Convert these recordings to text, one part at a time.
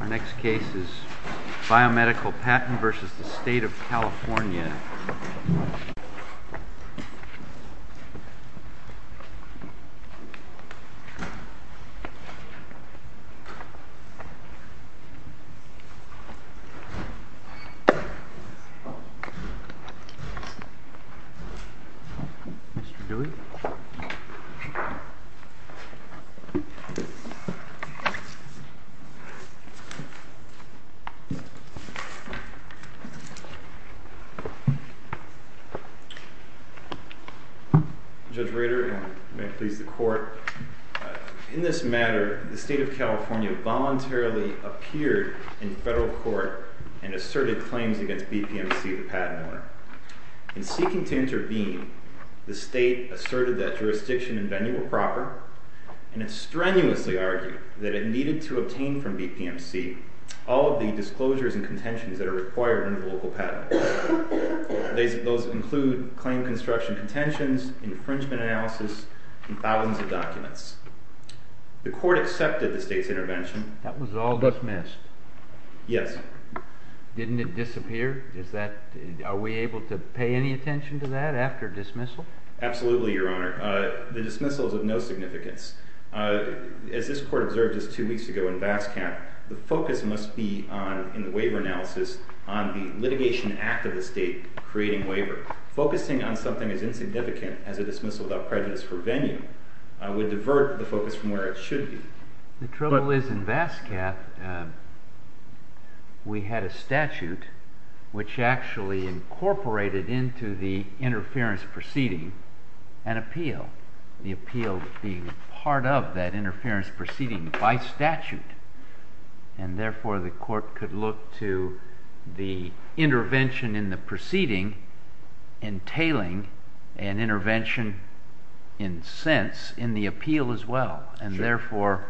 Our next case is Biomedical Patent v. State of California Mr. Dewey Judge Rader, may I please the court? In this matter, the State of California voluntarily appeared in federal court and asserted claims against BPMC, the patent owner. In seeking to intervene, the State asserted that jurisdiction and venue were proper, and it strenuously argued that it needed to obtain from BPMC all of the disclosures and contentions that are required under the local patent. Those include claim construction contentions, infringement analysis, and thousands of documents. The court accepted the State's intervention. That was all dismissed? Yes. Didn't it disappear? Are we able to pay any attention to that after dismissal? Absolutely, Your Honor. The dismissal is of no significance. As this court observed just two weeks ago in VASCAP, the focus must be on, in the waiver analysis, on the litigation act of the State creating waiver. Focusing on something as insignificant as a dismissal without prejudice for venue would divert the focus from where it should be. The trouble is in VASCAP, we had a statute which actually incorporated into the interference proceeding an appeal, the appeal being part of that interference proceeding by statute. And therefore, the court could look to the intervention in the proceeding entailing an intervention in sense in the appeal as well, and therefore,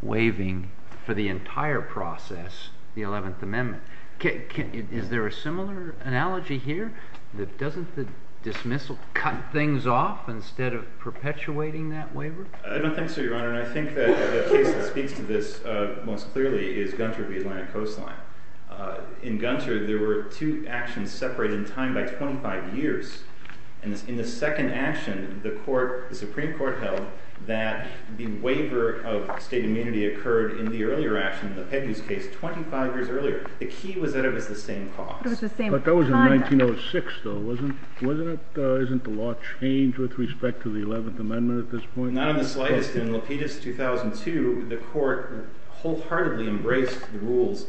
waiving for the entire process the 11th Amendment. Is there a similar analogy here? Doesn't the dismissal cut things off instead of perpetuating that waiver? I don't think so, Your Honor. And I think that the case that speaks to this most clearly is Gunter v. Atlantic Coastline. In Gunter, there were two actions separated in time by 25 years. In the second action, the Supreme Court held that the waiver of state immunity occurred in the earlier action, the Pegues case, 25 years earlier. The key was that it was the same cause. But that was in 1906, though, wasn't it? Isn't the law changed with respect to the 11th Amendment at this point? Not in the slightest. In Lapidus, 2002, the court wholeheartedly embraced the rules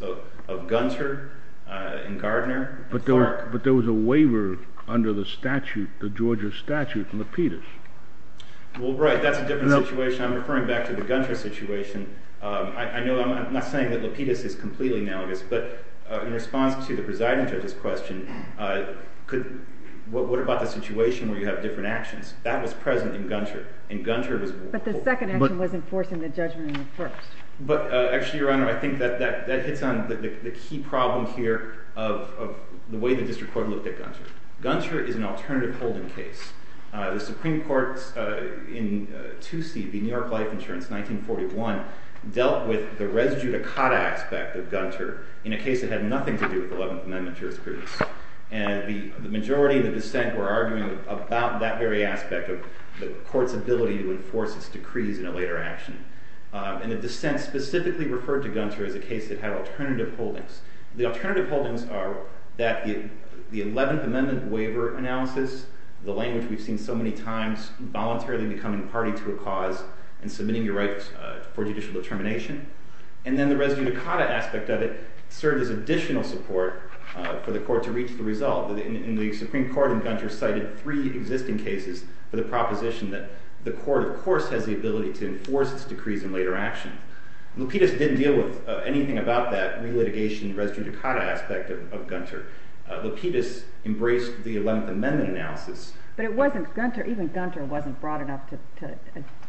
of Gunter and Gardner and Clark. But there was a waiver under the Georgia statute in Lapidus. Well, right. That's a different situation. I'm referring back to the Gunter situation. I know I'm not saying that Lapidus is completely analogous, but in response to the presiding judge's question, what about the situation where you have different actions? That was present in Gunter, and Gunter was— But the second action was enforcing the judgment in the first. But actually, Your Honor, I think that hits on the key problem here of the way the district court looked at Gunter. Gunter is an alternative holding case. The Supreme Court in 2C, the New York Life Insurance, 1941, dealt with the res judicata aspect of Gunter in a case that had nothing to do with the 11th Amendment jurisprudence. And the majority of the dissent were arguing about that very aspect of the court's ability to enforce its decrees in a later action. And the dissent specifically referred to Gunter as a case that had alternative holdings. The alternative holdings are that the 11th Amendment waiver analysis, the language we've seen so many times, voluntarily becoming party to a cause and submitting your rights for judicial determination, and then the res judicata aspect of it served as additional support for the court to reach the result. And the Supreme Court in Gunter cited three existing cases for the proposition that the court, of course, has the ability to enforce its decrees in later action. Lapidus didn't deal with anything about that relitigation res judicata aspect of Gunter. Lapidus embraced the 11th Amendment analysis. But it wasn't—even Gunter wasn't broad enough to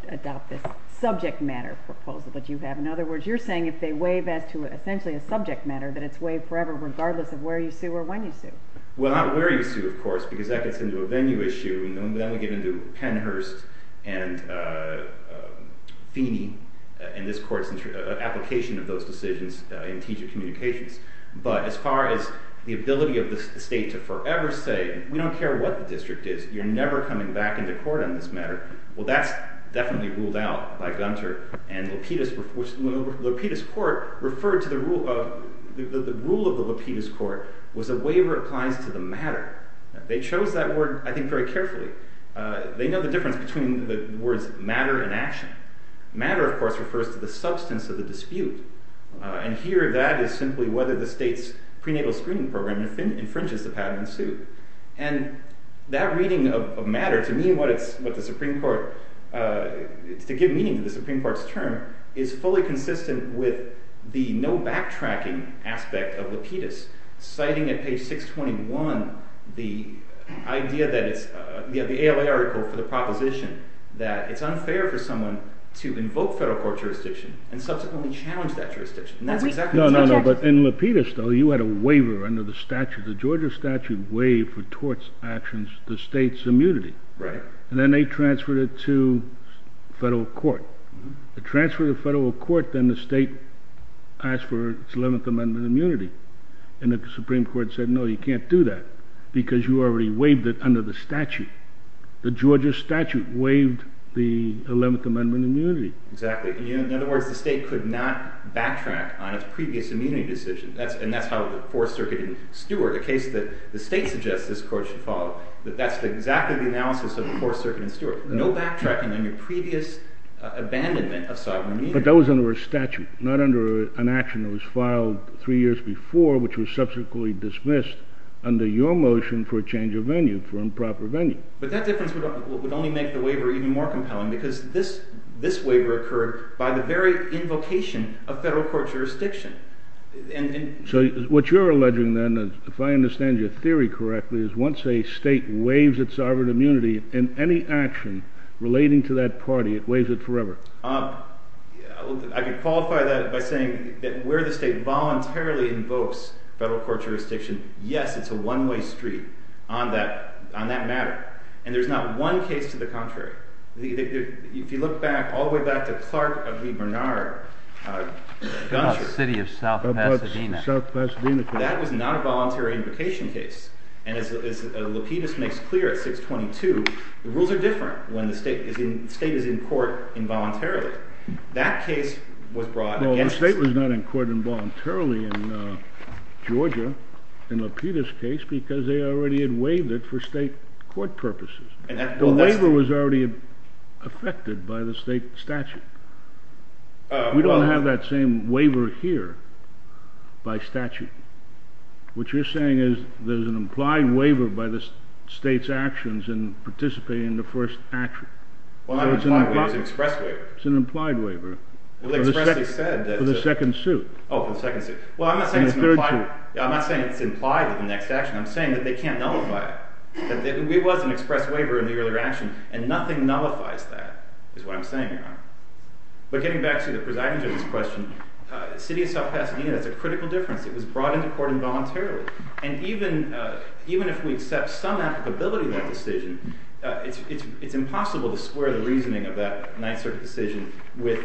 adopt this subject matter proposal that you have. In other words, you're saying if they waive as to essentially a subject matter, that it's waived forever regardless of where you sue or when you sue. Well, not where you sue, of course, because that gets into a venue issue, and then we get into Pennhurst and Feeney and this court's application of those decisions in teacher communications. But as far as the ability of the state to forever say, we don't care what the district is, you're never coming back into court on this matter, well, that's definitely ruled out by Gunter. And Lapidus—Lapidus Court referred to the rule of—the rule of the Lapidus Court was a waiver applies to the matter. They chose that word, I think, very carefully. They know the difference between the words matter and action. Matter, of course, refers to the substance of the dispute. And here, that is simply whether the state's prenatal screening program infringes the patent and sue. And that reading of matter, to me, what the Supreme Court—to give meaning to the Supreme Court's term, is fully consistent with the no backtracking aspect of Lapidus. Citing at page 621 the idea that it's—the ALA article for the proposition that it's unfair for someone to invoke federal court jurisdiction and subsequently challenge that jurisdiction. And that's exactly— No, no, no, but in Lapidus, though, you had a waiver under the statute. The Georgia statute waived for torts actions the state's immunity. Right. And then they transferred it to federal court. They transferred it to federal court. Then the state asked for its 11th Amendment immunity. And the Supreme Court said, no, you can't do that because you already waived it under the statute. The Georgia statute waived the 11th Amendment immunity. Exactly. In other words, the state could not backtrack on its previous immunity decision. And that's how the Fourth Circuit and Stewart, a case that the state suggests this court should follow, that that's exactly the analysis of the Fourth Circuit and Stewart. No backtracking on your previous abandonment of sovereign immunity. But that was under a statute, not under an action that was filed three years before which was subsequently dismissed under your motion for a change of venue, for improper venue. But that difference would only make the waiver even more compelling because this waiver occurred by the very invocation of federal court jurisdiction. So what you're alleging then, if I understand your theory correctly, is once a state waives its sovereign immunity in any action relating to that party, it waives it forever. I could qualify that by saying that where the state voluntarily invokes federal court jurisdiction, yes, it's a one-way street on that matter. And there's not one case to the contrary. If you look back, all the way back to Clark v. Bernard, the country. The city of South Pasadena. South Pasadena. That was not a voluntary invocation case. And as Lapidus makes clear at 622, the rules are different when the state is in court involuntarily. That case was brought against the state. Well, the state was not in court involuntarily in Georgia, in Lapidus' case, because they already had waived it for state court purposes. The waiver was already effected by the state statute. We don't have that same waiver here by statute. What you're saying is there's an implied waiver by the state's actions in participating in the first action. Well, not implied waiver. It's an express waiver. It's an implied waiver. Well, expressly said. For the second suit. Oh, for the second suit. Well, I'm not saying it's implied. In the third suit. I'm not saying it's implied in the next action. I'm saying that they can't nullify it. It was an express waiver in the earlier action, and nothing nullifies that is what I'm saying, Your Honor. But getting back to the presiding judge's question, the city of South Pasadena, that's a critical difference. It was brought into court involuntarily. And even if we accept some applicability to that decision, it's impossible to square the reasoning of that Ninth Circuit decision with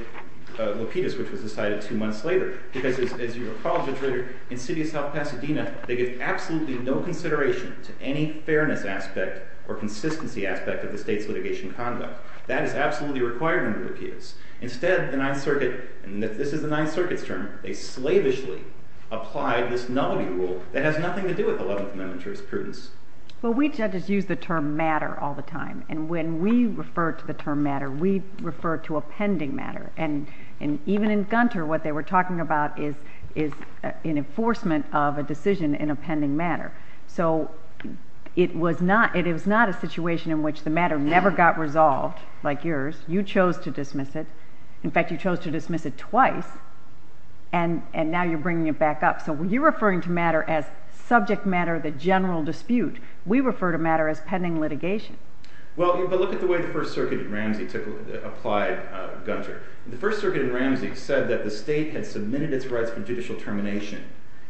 Lapidus, which was decided two months later. Because as you recall, Judge Rader, in the city of South Pasadena, they give absolutely no consideration to any fairness aspect or consistency aspect of the state's litigation conduct. That is absolutely required under Lapidus. Instead, the Ninth Circuit, and this is the Ninth Circuit's term, they slavishly applied this nullity rule that has nothing to do with Eleventh Amendment jurisprudence. Well, we judges use the term matter all the time. And when we refer to the term matter, we refer to a pending matter. And even in Gunter, what they were talking about is an enforcement of a decision in a pending matter. So it was not a situation in which the matter never got resolved like yours. You chose to dismiss it. In fact, you chose to dismiss it twice, and now you're bringing it back up. So when you're referring to matter as subject matter, the general dispute, we refer to matter as pending litigation. Well, but look at the way the First Circuit in Ramsey applied Gunter. The First Circuit in Ramsey said that the state had submitted its rights for judicial termination,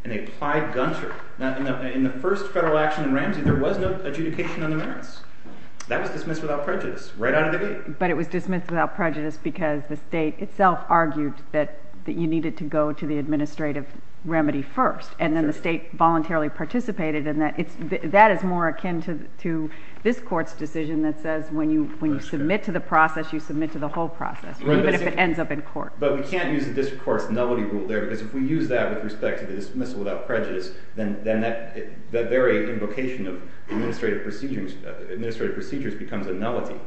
and they applied Gunter. In the first federal action in Ramsey, there was no adjudication on the merits. That was dismissed without prejudice right out of the gate. But it was dismissed without prejudice because the state itself argued that you needed to go to the administrative remedy first. And then the state voluntarily participated in that. That is more akin to this court's decision that says when you submit to the process, you submit to the whole process, even if it ends up in court. But we can't use the district court's nullity rule there because if we use that with respect to the dismissal without prejudice, then that very invocation of administrative procedures becomes a nullity,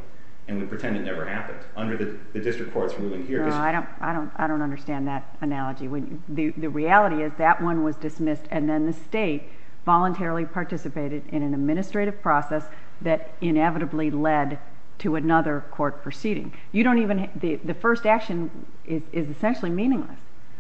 and we pretend it never happened under the district court's ruling here. No, I don't understand that analogy. The reality is that one was dismissed, and then the state voluntarily participated in an administrative process that inevitably led to another court proceeding. You don't even—the first action is essentially meaningless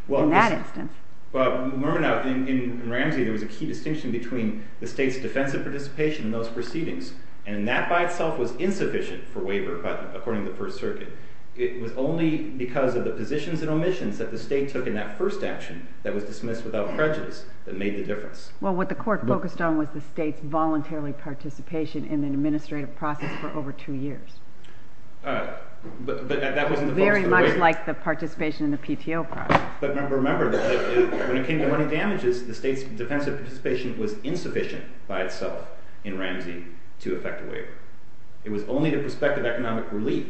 in that instance. Well, Murmanow, in Ramsey, there was a key distinction between the state's defensive participation in those proceedings, and that by itself was insufficient for waiver according to the First Circuit. It was only because of the positions and omissions that the state took in that first action that was dismissed without prejudice that made the difference. Well, what the court focused on was the state's voluntarily participation in an administrative process for over two years. But that wasn't the focus of the waiver. Very much like the participation in the PTO process. But remember that when it came to money damages, the state's defensive participation was insufficient by itself in Ramsey to effect a waiver. It was only the prospect of economic relief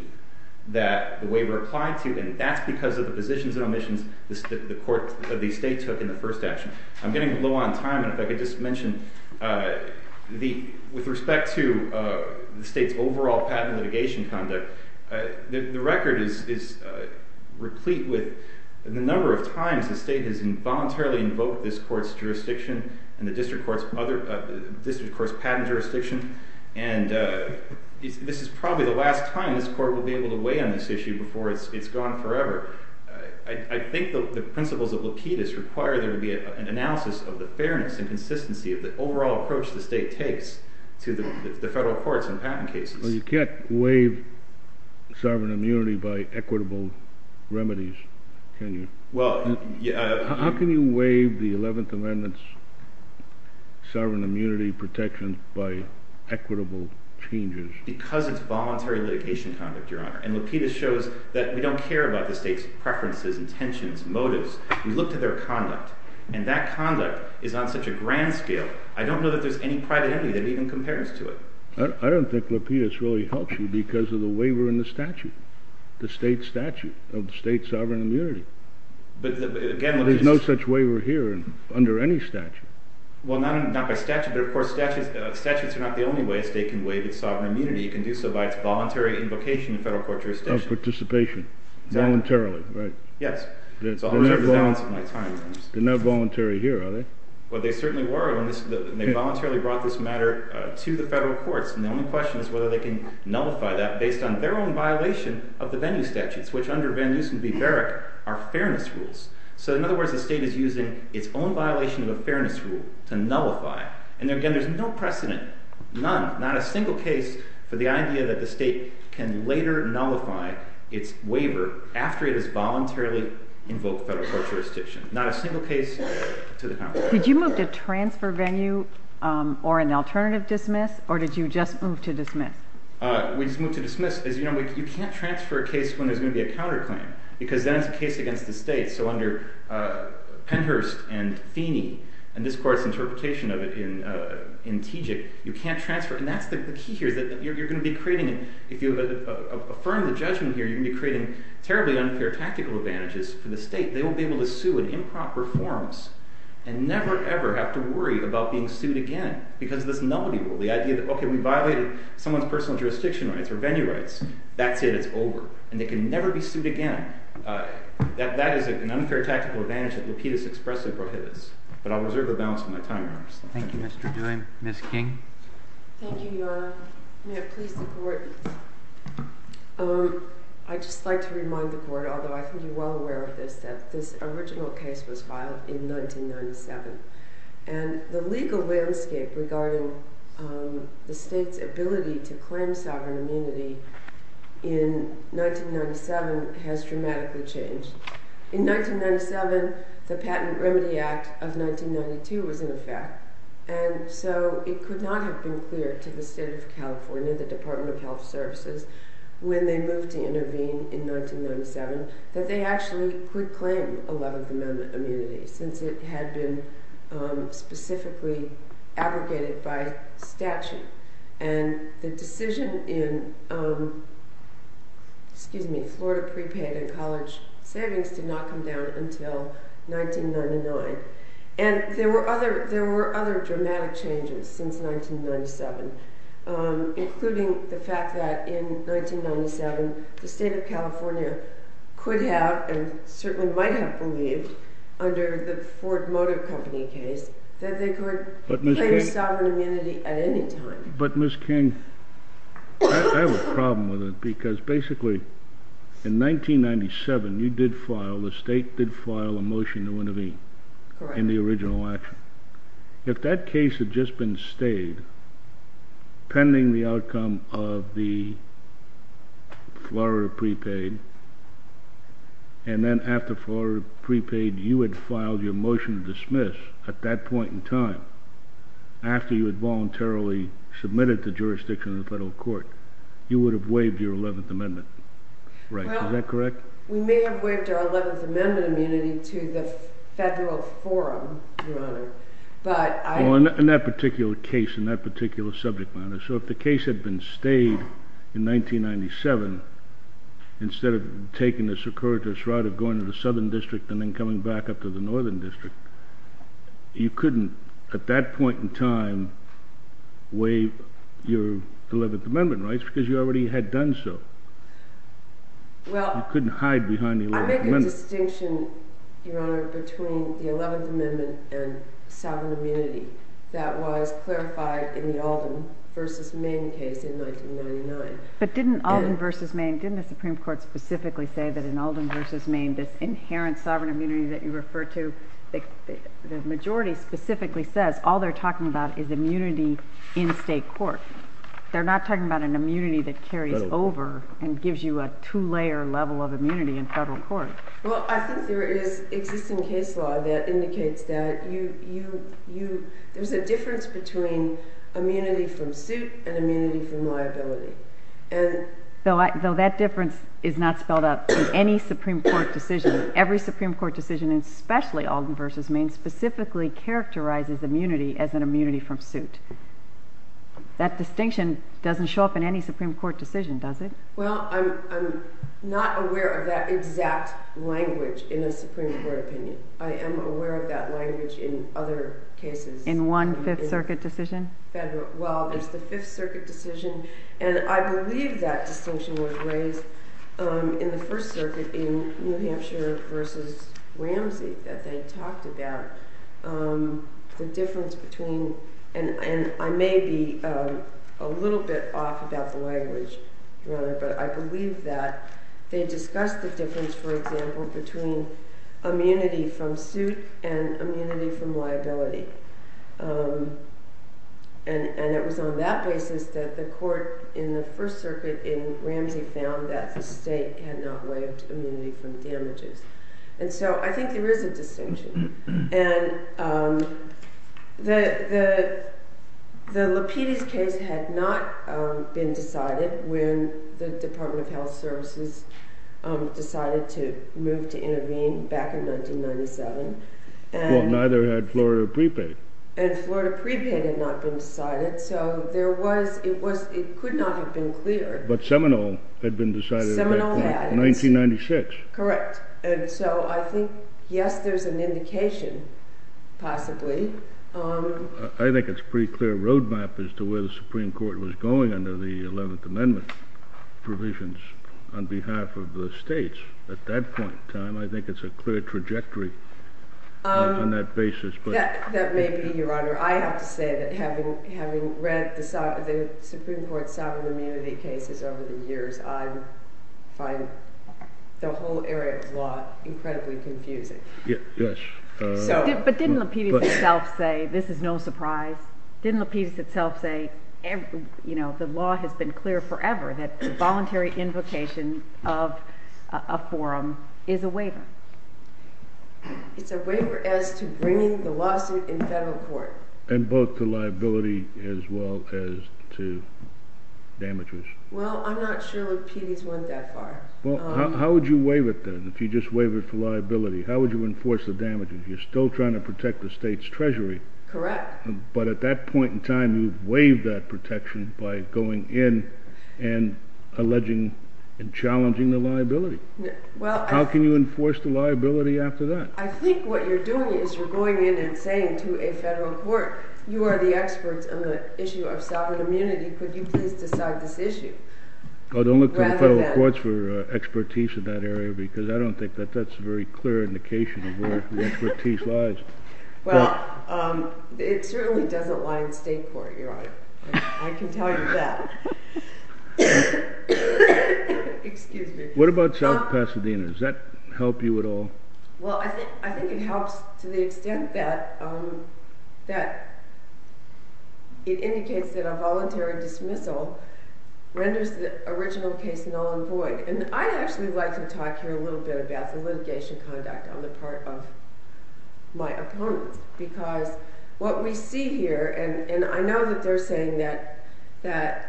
that the waiver applied to, and that's because of the positions and omissions that the state took in the first action. I'm getting low on time, and if I could just mention, with respect to the state's overall patent litigation conduct, the record is replete with the number of times the state has voluntarily invoked this court's jurisdiction and the district court's patent jurisdiction, and this is probably the last time this court will be able to weigh in on this issue before it's gone forever. I think the principles of Lapidus require there to be an analysis of the fairness and consistency of the overall approach the state takes to the federal courts in patent cases. Well, you can't waive sovereign immunity by equitable remedies, can you? How can you waive the Eleventh Amendment's sovereign immunity protections by equitable changes? Because it's voluntary litigation conduct, Your Honor, and Lapidus shows that we don't care about the state's preferences, intentions, motives. We look to their conduct, and that conduct is on such a grand scale, I don't know that there's any private entity that even compares to it. I don't think Lapidus really helps you because of the waiver in the statute, the state statute of state sovereign immunity. There's no such waiver here under any statute. Well, not by statute, but of course statutes are not the only way a state can waive its sovereign immunity. It can do so by its voluntary invocation in federal court jurisdiction. Of participation, voluntarily, right? Yes. They're not voluntary here, are they? Well, they certainly were when they voluntarily brought this matter to the federal courts, and the only question is whether they can nullify that based on their own violation of the venue statutes, which under Van Nusen v. Barrack are fairness rules. So in other words, the state is using its own violation of a fairness rule to nullify. And again, there's no precedent, none, not a single case for the idea that the state can later nullify its waiver after it has voluntarily invoked federal court jurisdiction. Not a single case to the contrary. Did you move to transfer venue or an alternative dismiss, or did you just move to dismiss? We just moved to dismiss. As you know, you can't transfer a case when there's going to be a counterclaim because then it's a case against the state. So under Penhurst and Feeney and this court's interpretation of it in Tejik, you can't transfer. And that's the key here is that you're going to be creating, if you affirm the judgment here, you're going to be creating terribly unfair tactical advantages for the state. They won't be able to sue in improper forms and never, ever have to worry about being sued again because of this nullity rule. The idea that, okay, we violated someone's personal jurisdiction rights or venue rights. That's it. It's over. And they can never be sued again. That is an unfair tactical advantage that Lapidus expressly prohibits. But I'll reserve the balance of my time here. Thank you, Mr. Duane. Thank you, Your Honor. May it please the Court. I'd just like to remind the Court, although I think you're well aware of this, that this original case was filed in 1997. And the legal landscape regarding the state's ability to claim sovereign immunity in 1997 has dramatically changed. In 1997, the Patent and Remedy Act of 1992 was in effect. And so it could not have been clear to the State of California, the Department of Health Services, when they moved to intervene in 1997, that they actually could claim 11th Amendment immunity since it had been specifically abrogated by statute. And the decision in Florida prepaid and college savings did not come down until 1999. And there were other dramatic changes since 1997, including the fact that in 1997, the State of California could have and certainly might have believed, under the Ford Motor Company case, that they could claim sovereign immunity at any time. But, Ms. King, I have a problem with it. Because basically, in 1997, you did file, the State did file a motion to intervene in the original action. If that case had just been stayed pending the outcome of the Florida prepaid, and then after Florida prepaid, you had filed your motion to dismiss at that point in time, after you had voluntarily submitted to jurisdiction of the federal court, you would have waived your 11th Amendment right. Is that correct? Well, we may have waived our 11th Amendment immunity to the federal forum, Your Honor, but I... Well, in that particular case, in that particular subject matter, so if the case had been stayed in 1997, instead of taking the circuitous route of going to the Southern District and then coming back up to the Northern District, you couldn't, at that point in time, waive your 11th Amendment rights because you already had done so. Well... You couldn't hide behind the 11th Amendment. I make a distinction, Your Honor, between the 11th Amendment and sovereign immunity. That was clarified in the Alden v. Maine case in 1999. But didn't Alden v. Maine, didn't the Supreme Court specifically say that in Alden v. Maine, this inherent sovereign immunity that you refer to, the majority specifically says, all they're talking about is immunity in state court. They're not talking about an immunity that carries over and gives you a two-layer level of immunity in federal court. Well, I think there is existing case law that indicates that you... There's a difference between immunity from suit and immunity from liability. Though that difference is not spelled out in any Supreme Court decision, every Supreme Court decision, especially Alden v. Maine, specifically characterizes immunity as an immunity from suit. That distinction doesn't show up in any Supreme Court decision, does it? Well, I'm not aware of that exact language in a Supreme Court opinion. I am aware of that language in other cases. In one Fifth Circuit decision? Well, there's the Fifth Circuit decision, and I believe that distinction was raised in the First Circuit in New Hampshire v. Ramsey that they talked about the difference between... And I may be a little bit off about the language, but I believe that they discussed the difference, for example, between immunity from suit and immunity from liability. And it was on that basis that the court in the First Circuit in Ramsey found that the state had not waived immunity from damages. And so I think there is a distinction. And the Lapides case had not been decided when the Department of Health Services decided to move to intervene back in 1997. Well, neither had Florida Pre-Pay. And Florida Pre-Pay had not been decided, so it could not have been clear. But Seminole had been decided at that point. Seminole had. In 1996. Correct. And so I think, yes, there's an indication, possibly. I think it's a pretty clear road map as to where the Supreme Court was going under the Eleventh Amendment provisions on behalf of the states at that point in time. I think it's a clear trajectory on that basis. That may be, Your Honor. I have to say that having read the Supreme Court sovereign immunity cases over the years, I find the whole area of law incredibly confusing. Yes. But didn't Lapides itself say, this is no surprise, didn't Lapides itself say, you know, the law has been clear forever that voluntary invocation of a forum is a waiver? It's a waiver as to bringing the lawsuit in federal court. And both to liability as well as to damages. Well, I'm not sure Lapides went that far. Well, how would you waive it then? If you just waive it for liability, how would you enforce the damages? You're still trying to protect the state's treasury. Correct. But at that point in time, you've waived that protection by going in and alleging and challenging the liability. How can you enforce the liability after that? I think what you're doing is you're going in and saying to a federal court, you are the experts on the issue of sovereign immunity. Could you please decide this issue? Oh, don't look to the federal courts for expertise in that area, because I don't think that's a very clear indication of where the expertise lies. Well, it certainly doesn't lie in state court, Your Honor. I can tell you that. Excuse me. What about South Pasadena? Does that help you at all? Well, I think it helps to the extent that it indicates that a voluntary dismissal renders the original case null and void. And I'd actually like to talk here a little bit about the litigation conduct on the part of my opponent. Because what we see here, and I know that they're saying that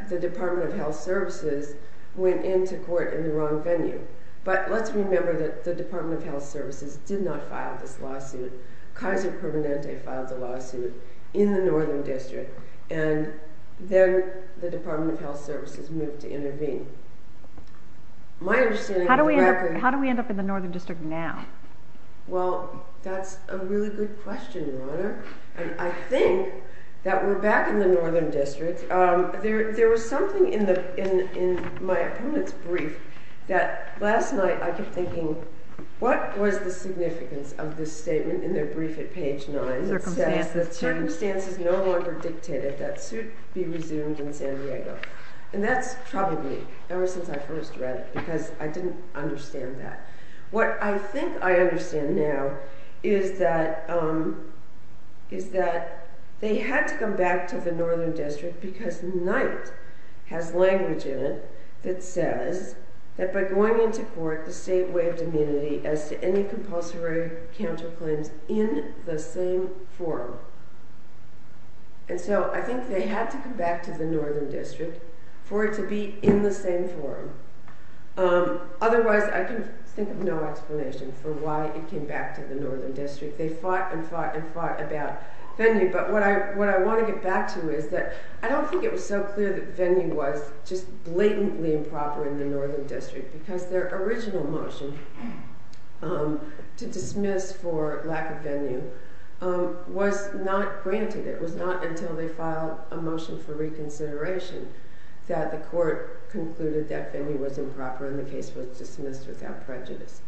the Department of Health Services went into court in the wrong venue. But let's remember that the Department of Health Services did not file this lawsuit. Kaiser Permanente filed the lawsuit in the Northern District, and then the Department of Health Services moved to intervene. How do we end up in the Northern District now? Well, that's a really good question, Your Honor. I think that we're back in the Northern District. There was something in my opponent's brief that last night I kept thinking, what was the significance of this statement in their brief at page 9? Circumstances. Circumstances no longer dictated that suit be resumed in San Diego. And that's probably ever since I first read it, because I didn't understand that. What I think I understand now is that they had to come back to the Northern District because Knight has language in it that says that by going into court, the state waived immunity as to any compulsory counterclaims in the same forum. And so I think they had to come back to the Northern District for it to be in the same forum. Otherwise, I can think of no explanation for why it came back to the Northern District. They fought and fought and fought about venue. But what I want to get back to is that I don't think it was so clear that venue was just blatantly improper in the Northern District, because their original motion to dismiss for lack of venue was not granted. It was not until they filed a motion for reconsideration that the court concluded that venue was improper and the case was dismissed without prejudice.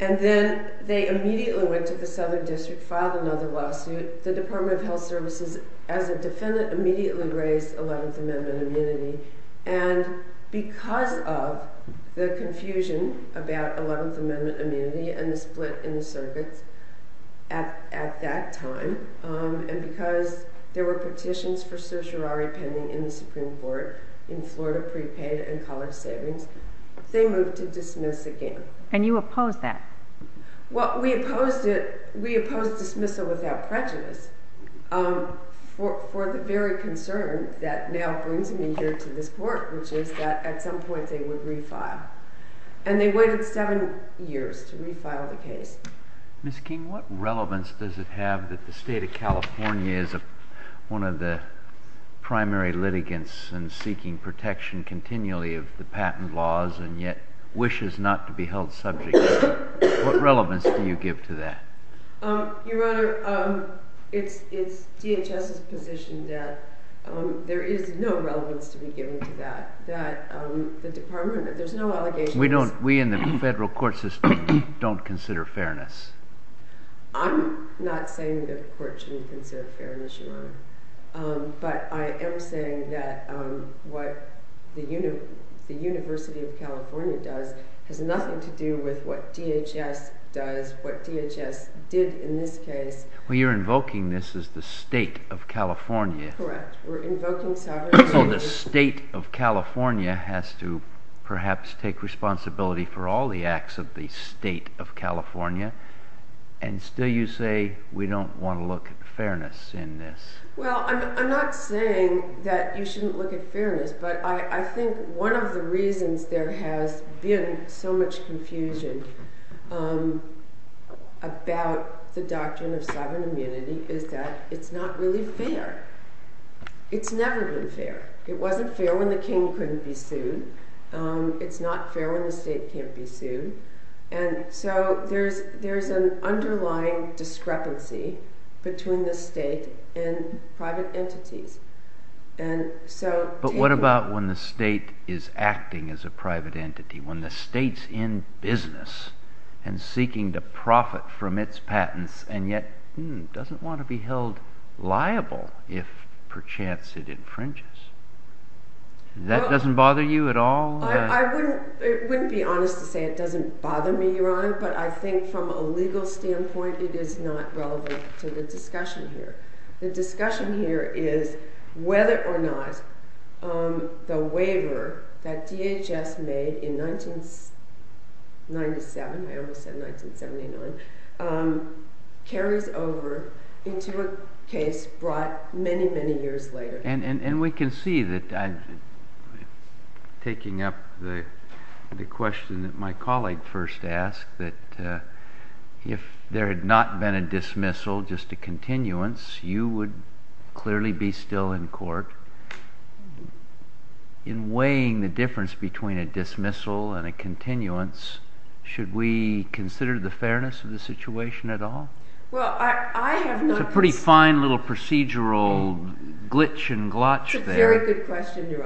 And then they immediately went to the Southern District, filed another lawsuit. The Department of Health Services, as a defendant, immediately raised 11th Amendment immunity. And because of the confusion about 11th Amendment immunity and the split in the circuits at that time, and because there were petitions for certiorari pending in the Supreme Court in Florida prepaid and college savings, they moved to dismiss again. And you opposed that. Well, we opposed dismissal without prejudice for the very concern that now brings me here to this court, which is that at some point they would refile. And they waited seven years to refile the case. Ms. King, what relevance does it have that the state of California is one of the primary litigants and seeking protection continually of the patent laws and yet wishes not to be held subject to that? What relevance do you give to that? Your Honor, it's DHS's position that there is no relevance to be given to that. That the Department, there's no allegations. We in the federal court system don't consider fairness. I'm not saying the court shouldn't consider fairness, Your Honor. But I am saying that what the University of California does has nothing to do with what DHS does, what DHS did in this case. Well, you're invoking this as the state of California. Correct. We're invoking sovereignty. So the state of California has to perhaps take responsibility for all the acts of the state of California, and still you say we don't want to look at fairness in this. Well, I'm not saying that you shouldn't look at fairness, but I think one of the reasons there has been so much confusion about the doctrine of sovereign immunity is that it's not really fair. It's never been fair. It wasn't fair when the king couldn't be sued. And so there's an underlying discrepancy between the state and private entities. But what about when the state is acting as a private entity, when the state's in business and seeking to profit from its patents, and yet doesn't want to be held liable if perchance it infringes? That doesn't bother you at all? I wouldn't be honest to say it doesn't bother me, Your Honor, but I think from a legal standpoint it is not relevant to the discussion here. The discussion here is whether or not the waiver that DHS made in 1997, I almost said 1979, carries over into a case brought many, many years later. And we can see that, taking up the question that my colleague first asked, that if there had not been a dismissal, just a continuance, you would clearly be still in court. In weighing the difference between a dismissal and a continuance, should we consider the fairness of the situation at all? It's a pretty fine little procedural glitch and glotch there. It's a very good question, Your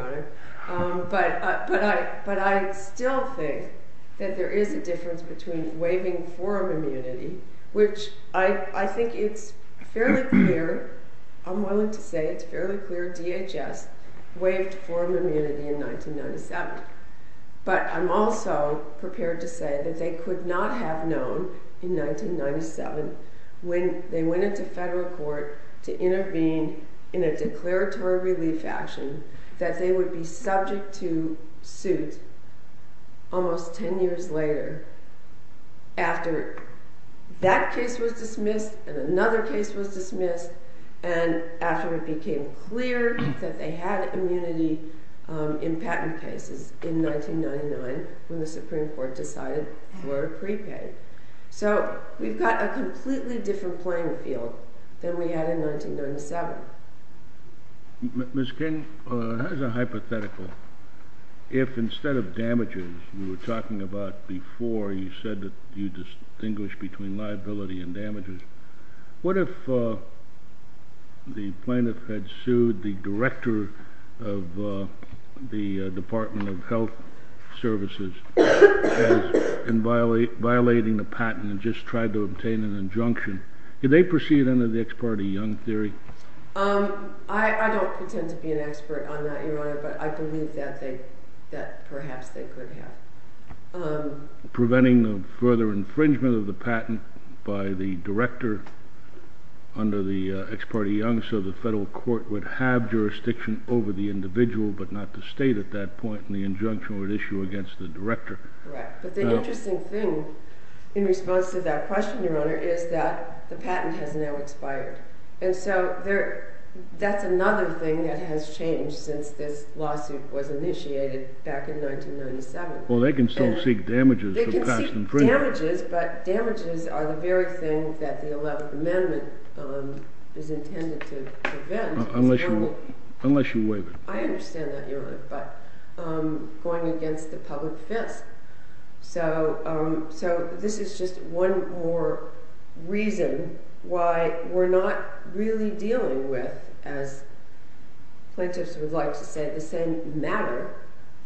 Honor. But I still think that there is a difference between waiving forum immunity, which I think it's fairly clear, I'm willing to say it's fairly clear, DHS waived forum immunity in 1997. But I'm also prepared to say that they could not have known in 1997 when they went into federal court to intervene in a declaratory relief action that they would be subject to suit almost 10 years later after that case was dismissed and another case was dismissed and after it became clear that they had immunity in patent cases in 1999 when the Supreme Court decided for a prepay. So we've got a completely different playing field than we had in 1997. Ms. King, as a hypothetical, if instead of damages you were talking about before you said that you distinguish between liability and damages, what if the plaintiff had sued the director of the Department of Health Services in violating the patent and just tried to obtain an injunction? Did they proceed under the ex parte Young theory? I don't pretend to be an expert on that, Your Honor, but I believe that perhaps they could have. Preventing the further infringement of the patent by the director under the ex parte Young so the federal court would have jurisdiction over the individual but not the state at that point and the injunction would issue against the director. But the interesting thing in response to that question, Your Honor, is that the patent has now expired. And so that's another thing that has changed since this lawsuit was initiated back in 1997. Well, they can still seek damages for past infringement. They can seek damages, but damages are the very thing that the 11th Amendment is intended to prevent. Unless you waive it. I understand that, Your Honor, but going against the public defense. So this is just one more reason why we're not really dealing with, as plaintiffs would like to say, the same matter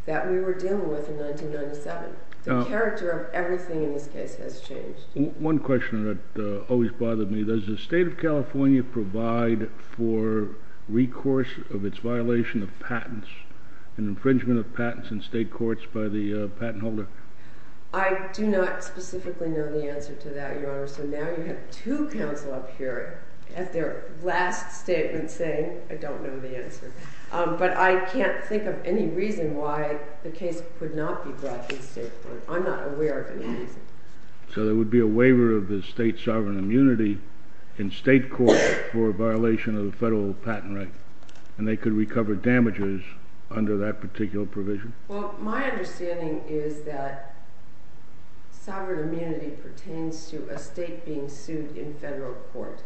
that we were dealing with in 1997. The character of everything in this case has changed. One question that always bothered me. Does the state of California provide for recourse of its violation of patents, an infringement of patents in state courts by the patent holder? I do not specifically know the answer to that, Your Honor. So now you have two counsel up here at their last statement saying, I don't know the answer. But I can't think of any reason why the case could not be brought in state court. I'm not aware of any reason. So there would be a waiver of the state sovereign immunity in state court for a violation of the federal patent right, and they could recover damages under that particular provision? Well, my understanding is that it pertains to the state being sued in federal court.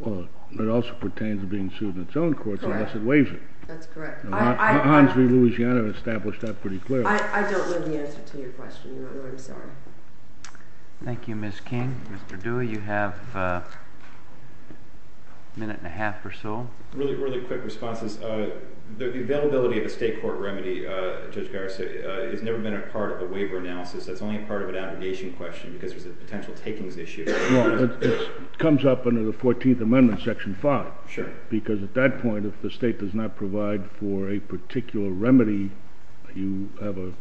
Well, it also pertains to being sued in its own courts unless it waivers. That's correct. Hines v. Louisiana established that pretty clearly. I don't know the answer to your question, Your Honor. I'm sorry. Thank you, Ms. King. Mr. Dewey, you have a minute and a half or so. Really quick responses. The availability of a state court remedy, Judge Garris, has never been a part of a waiver analysis. That's only a part of an aggregation question because there's a potential takings issue. No, it comes up under the 14th Amendment, Section 5. Sure. Because at that point, if the state does not provide for a particular remedy, you have a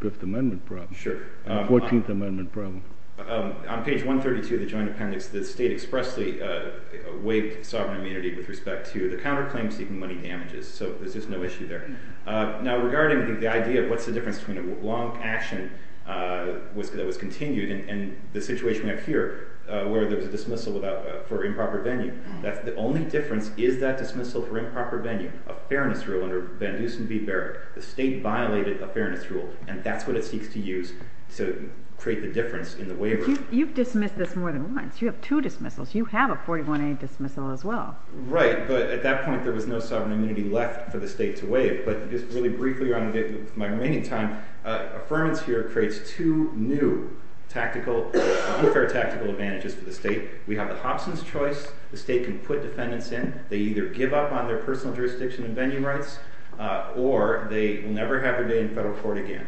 Fifth Amendment problem. Sure. A 14th Amendment problem. On page 132 of the Joint Appendix, the state expressly waived sovereign immunity with respect to the counterclaim seeking money damages. So there's just no issue there. Now, regarding the idea of what's the difference between a long action that was continued and the situation we have here where there was a dismissal for improper venue. The only difference is that dismissal for improper venue. A fairness rule under Van Dusen v. Berwick. The state violated a fairness rule, and that's what it seeks to use to create the difference in the waiver. You've dismissed this more than once. You have two dismissals. You have a 41A dismissal as well. Right, but at that point, there was no sovereign immunity left for the state to waive. But just really briefly around my remaining time, Affirmance here creates two new tactical, new fair tactical advantages for the state. We have the Hobson's Choice. The state can put defendants in. They either give up on their personal jurisdiction and venue rights, or they will never have a day in federal court again.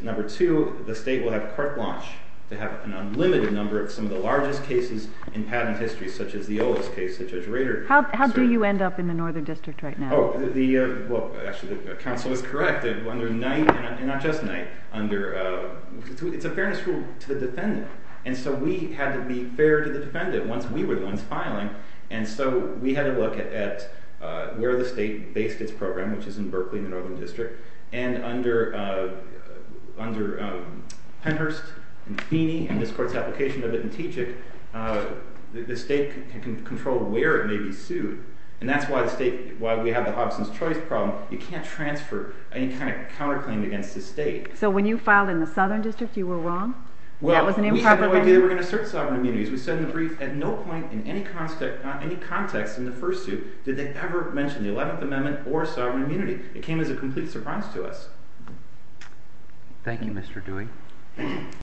Number two, the state will have a court launch to have an unlimited number of some of the largest cases in patent history, such as the Owens case, such as Rader case. How do you end up in the Northern District right now? Actually, the counsel is correct. Under Knight, and not just Knight, it's a fairness rule to the defendant. And so we had to be fair to the defendant once we were the ones filing. And so we had to look at where the state based its program, which is in Berkeley in the Northern District. And under Penhurst and Feeney and this court's application of it in Teach-It, the state can control where it may be sued. And that's why we have the Hobson's Choice problem. You can't transfer any kind of counterclaim against the state. So when you filed in the Southern District, you were wrong? Well, we had no idea they were going to assert sovereign immunity. We said in the brief, at no point in any context in the first suit did they ever mention the 11th Amendment or sovereign immunity. It came as a complete surprise to us. Thank you, Mr. Dewey.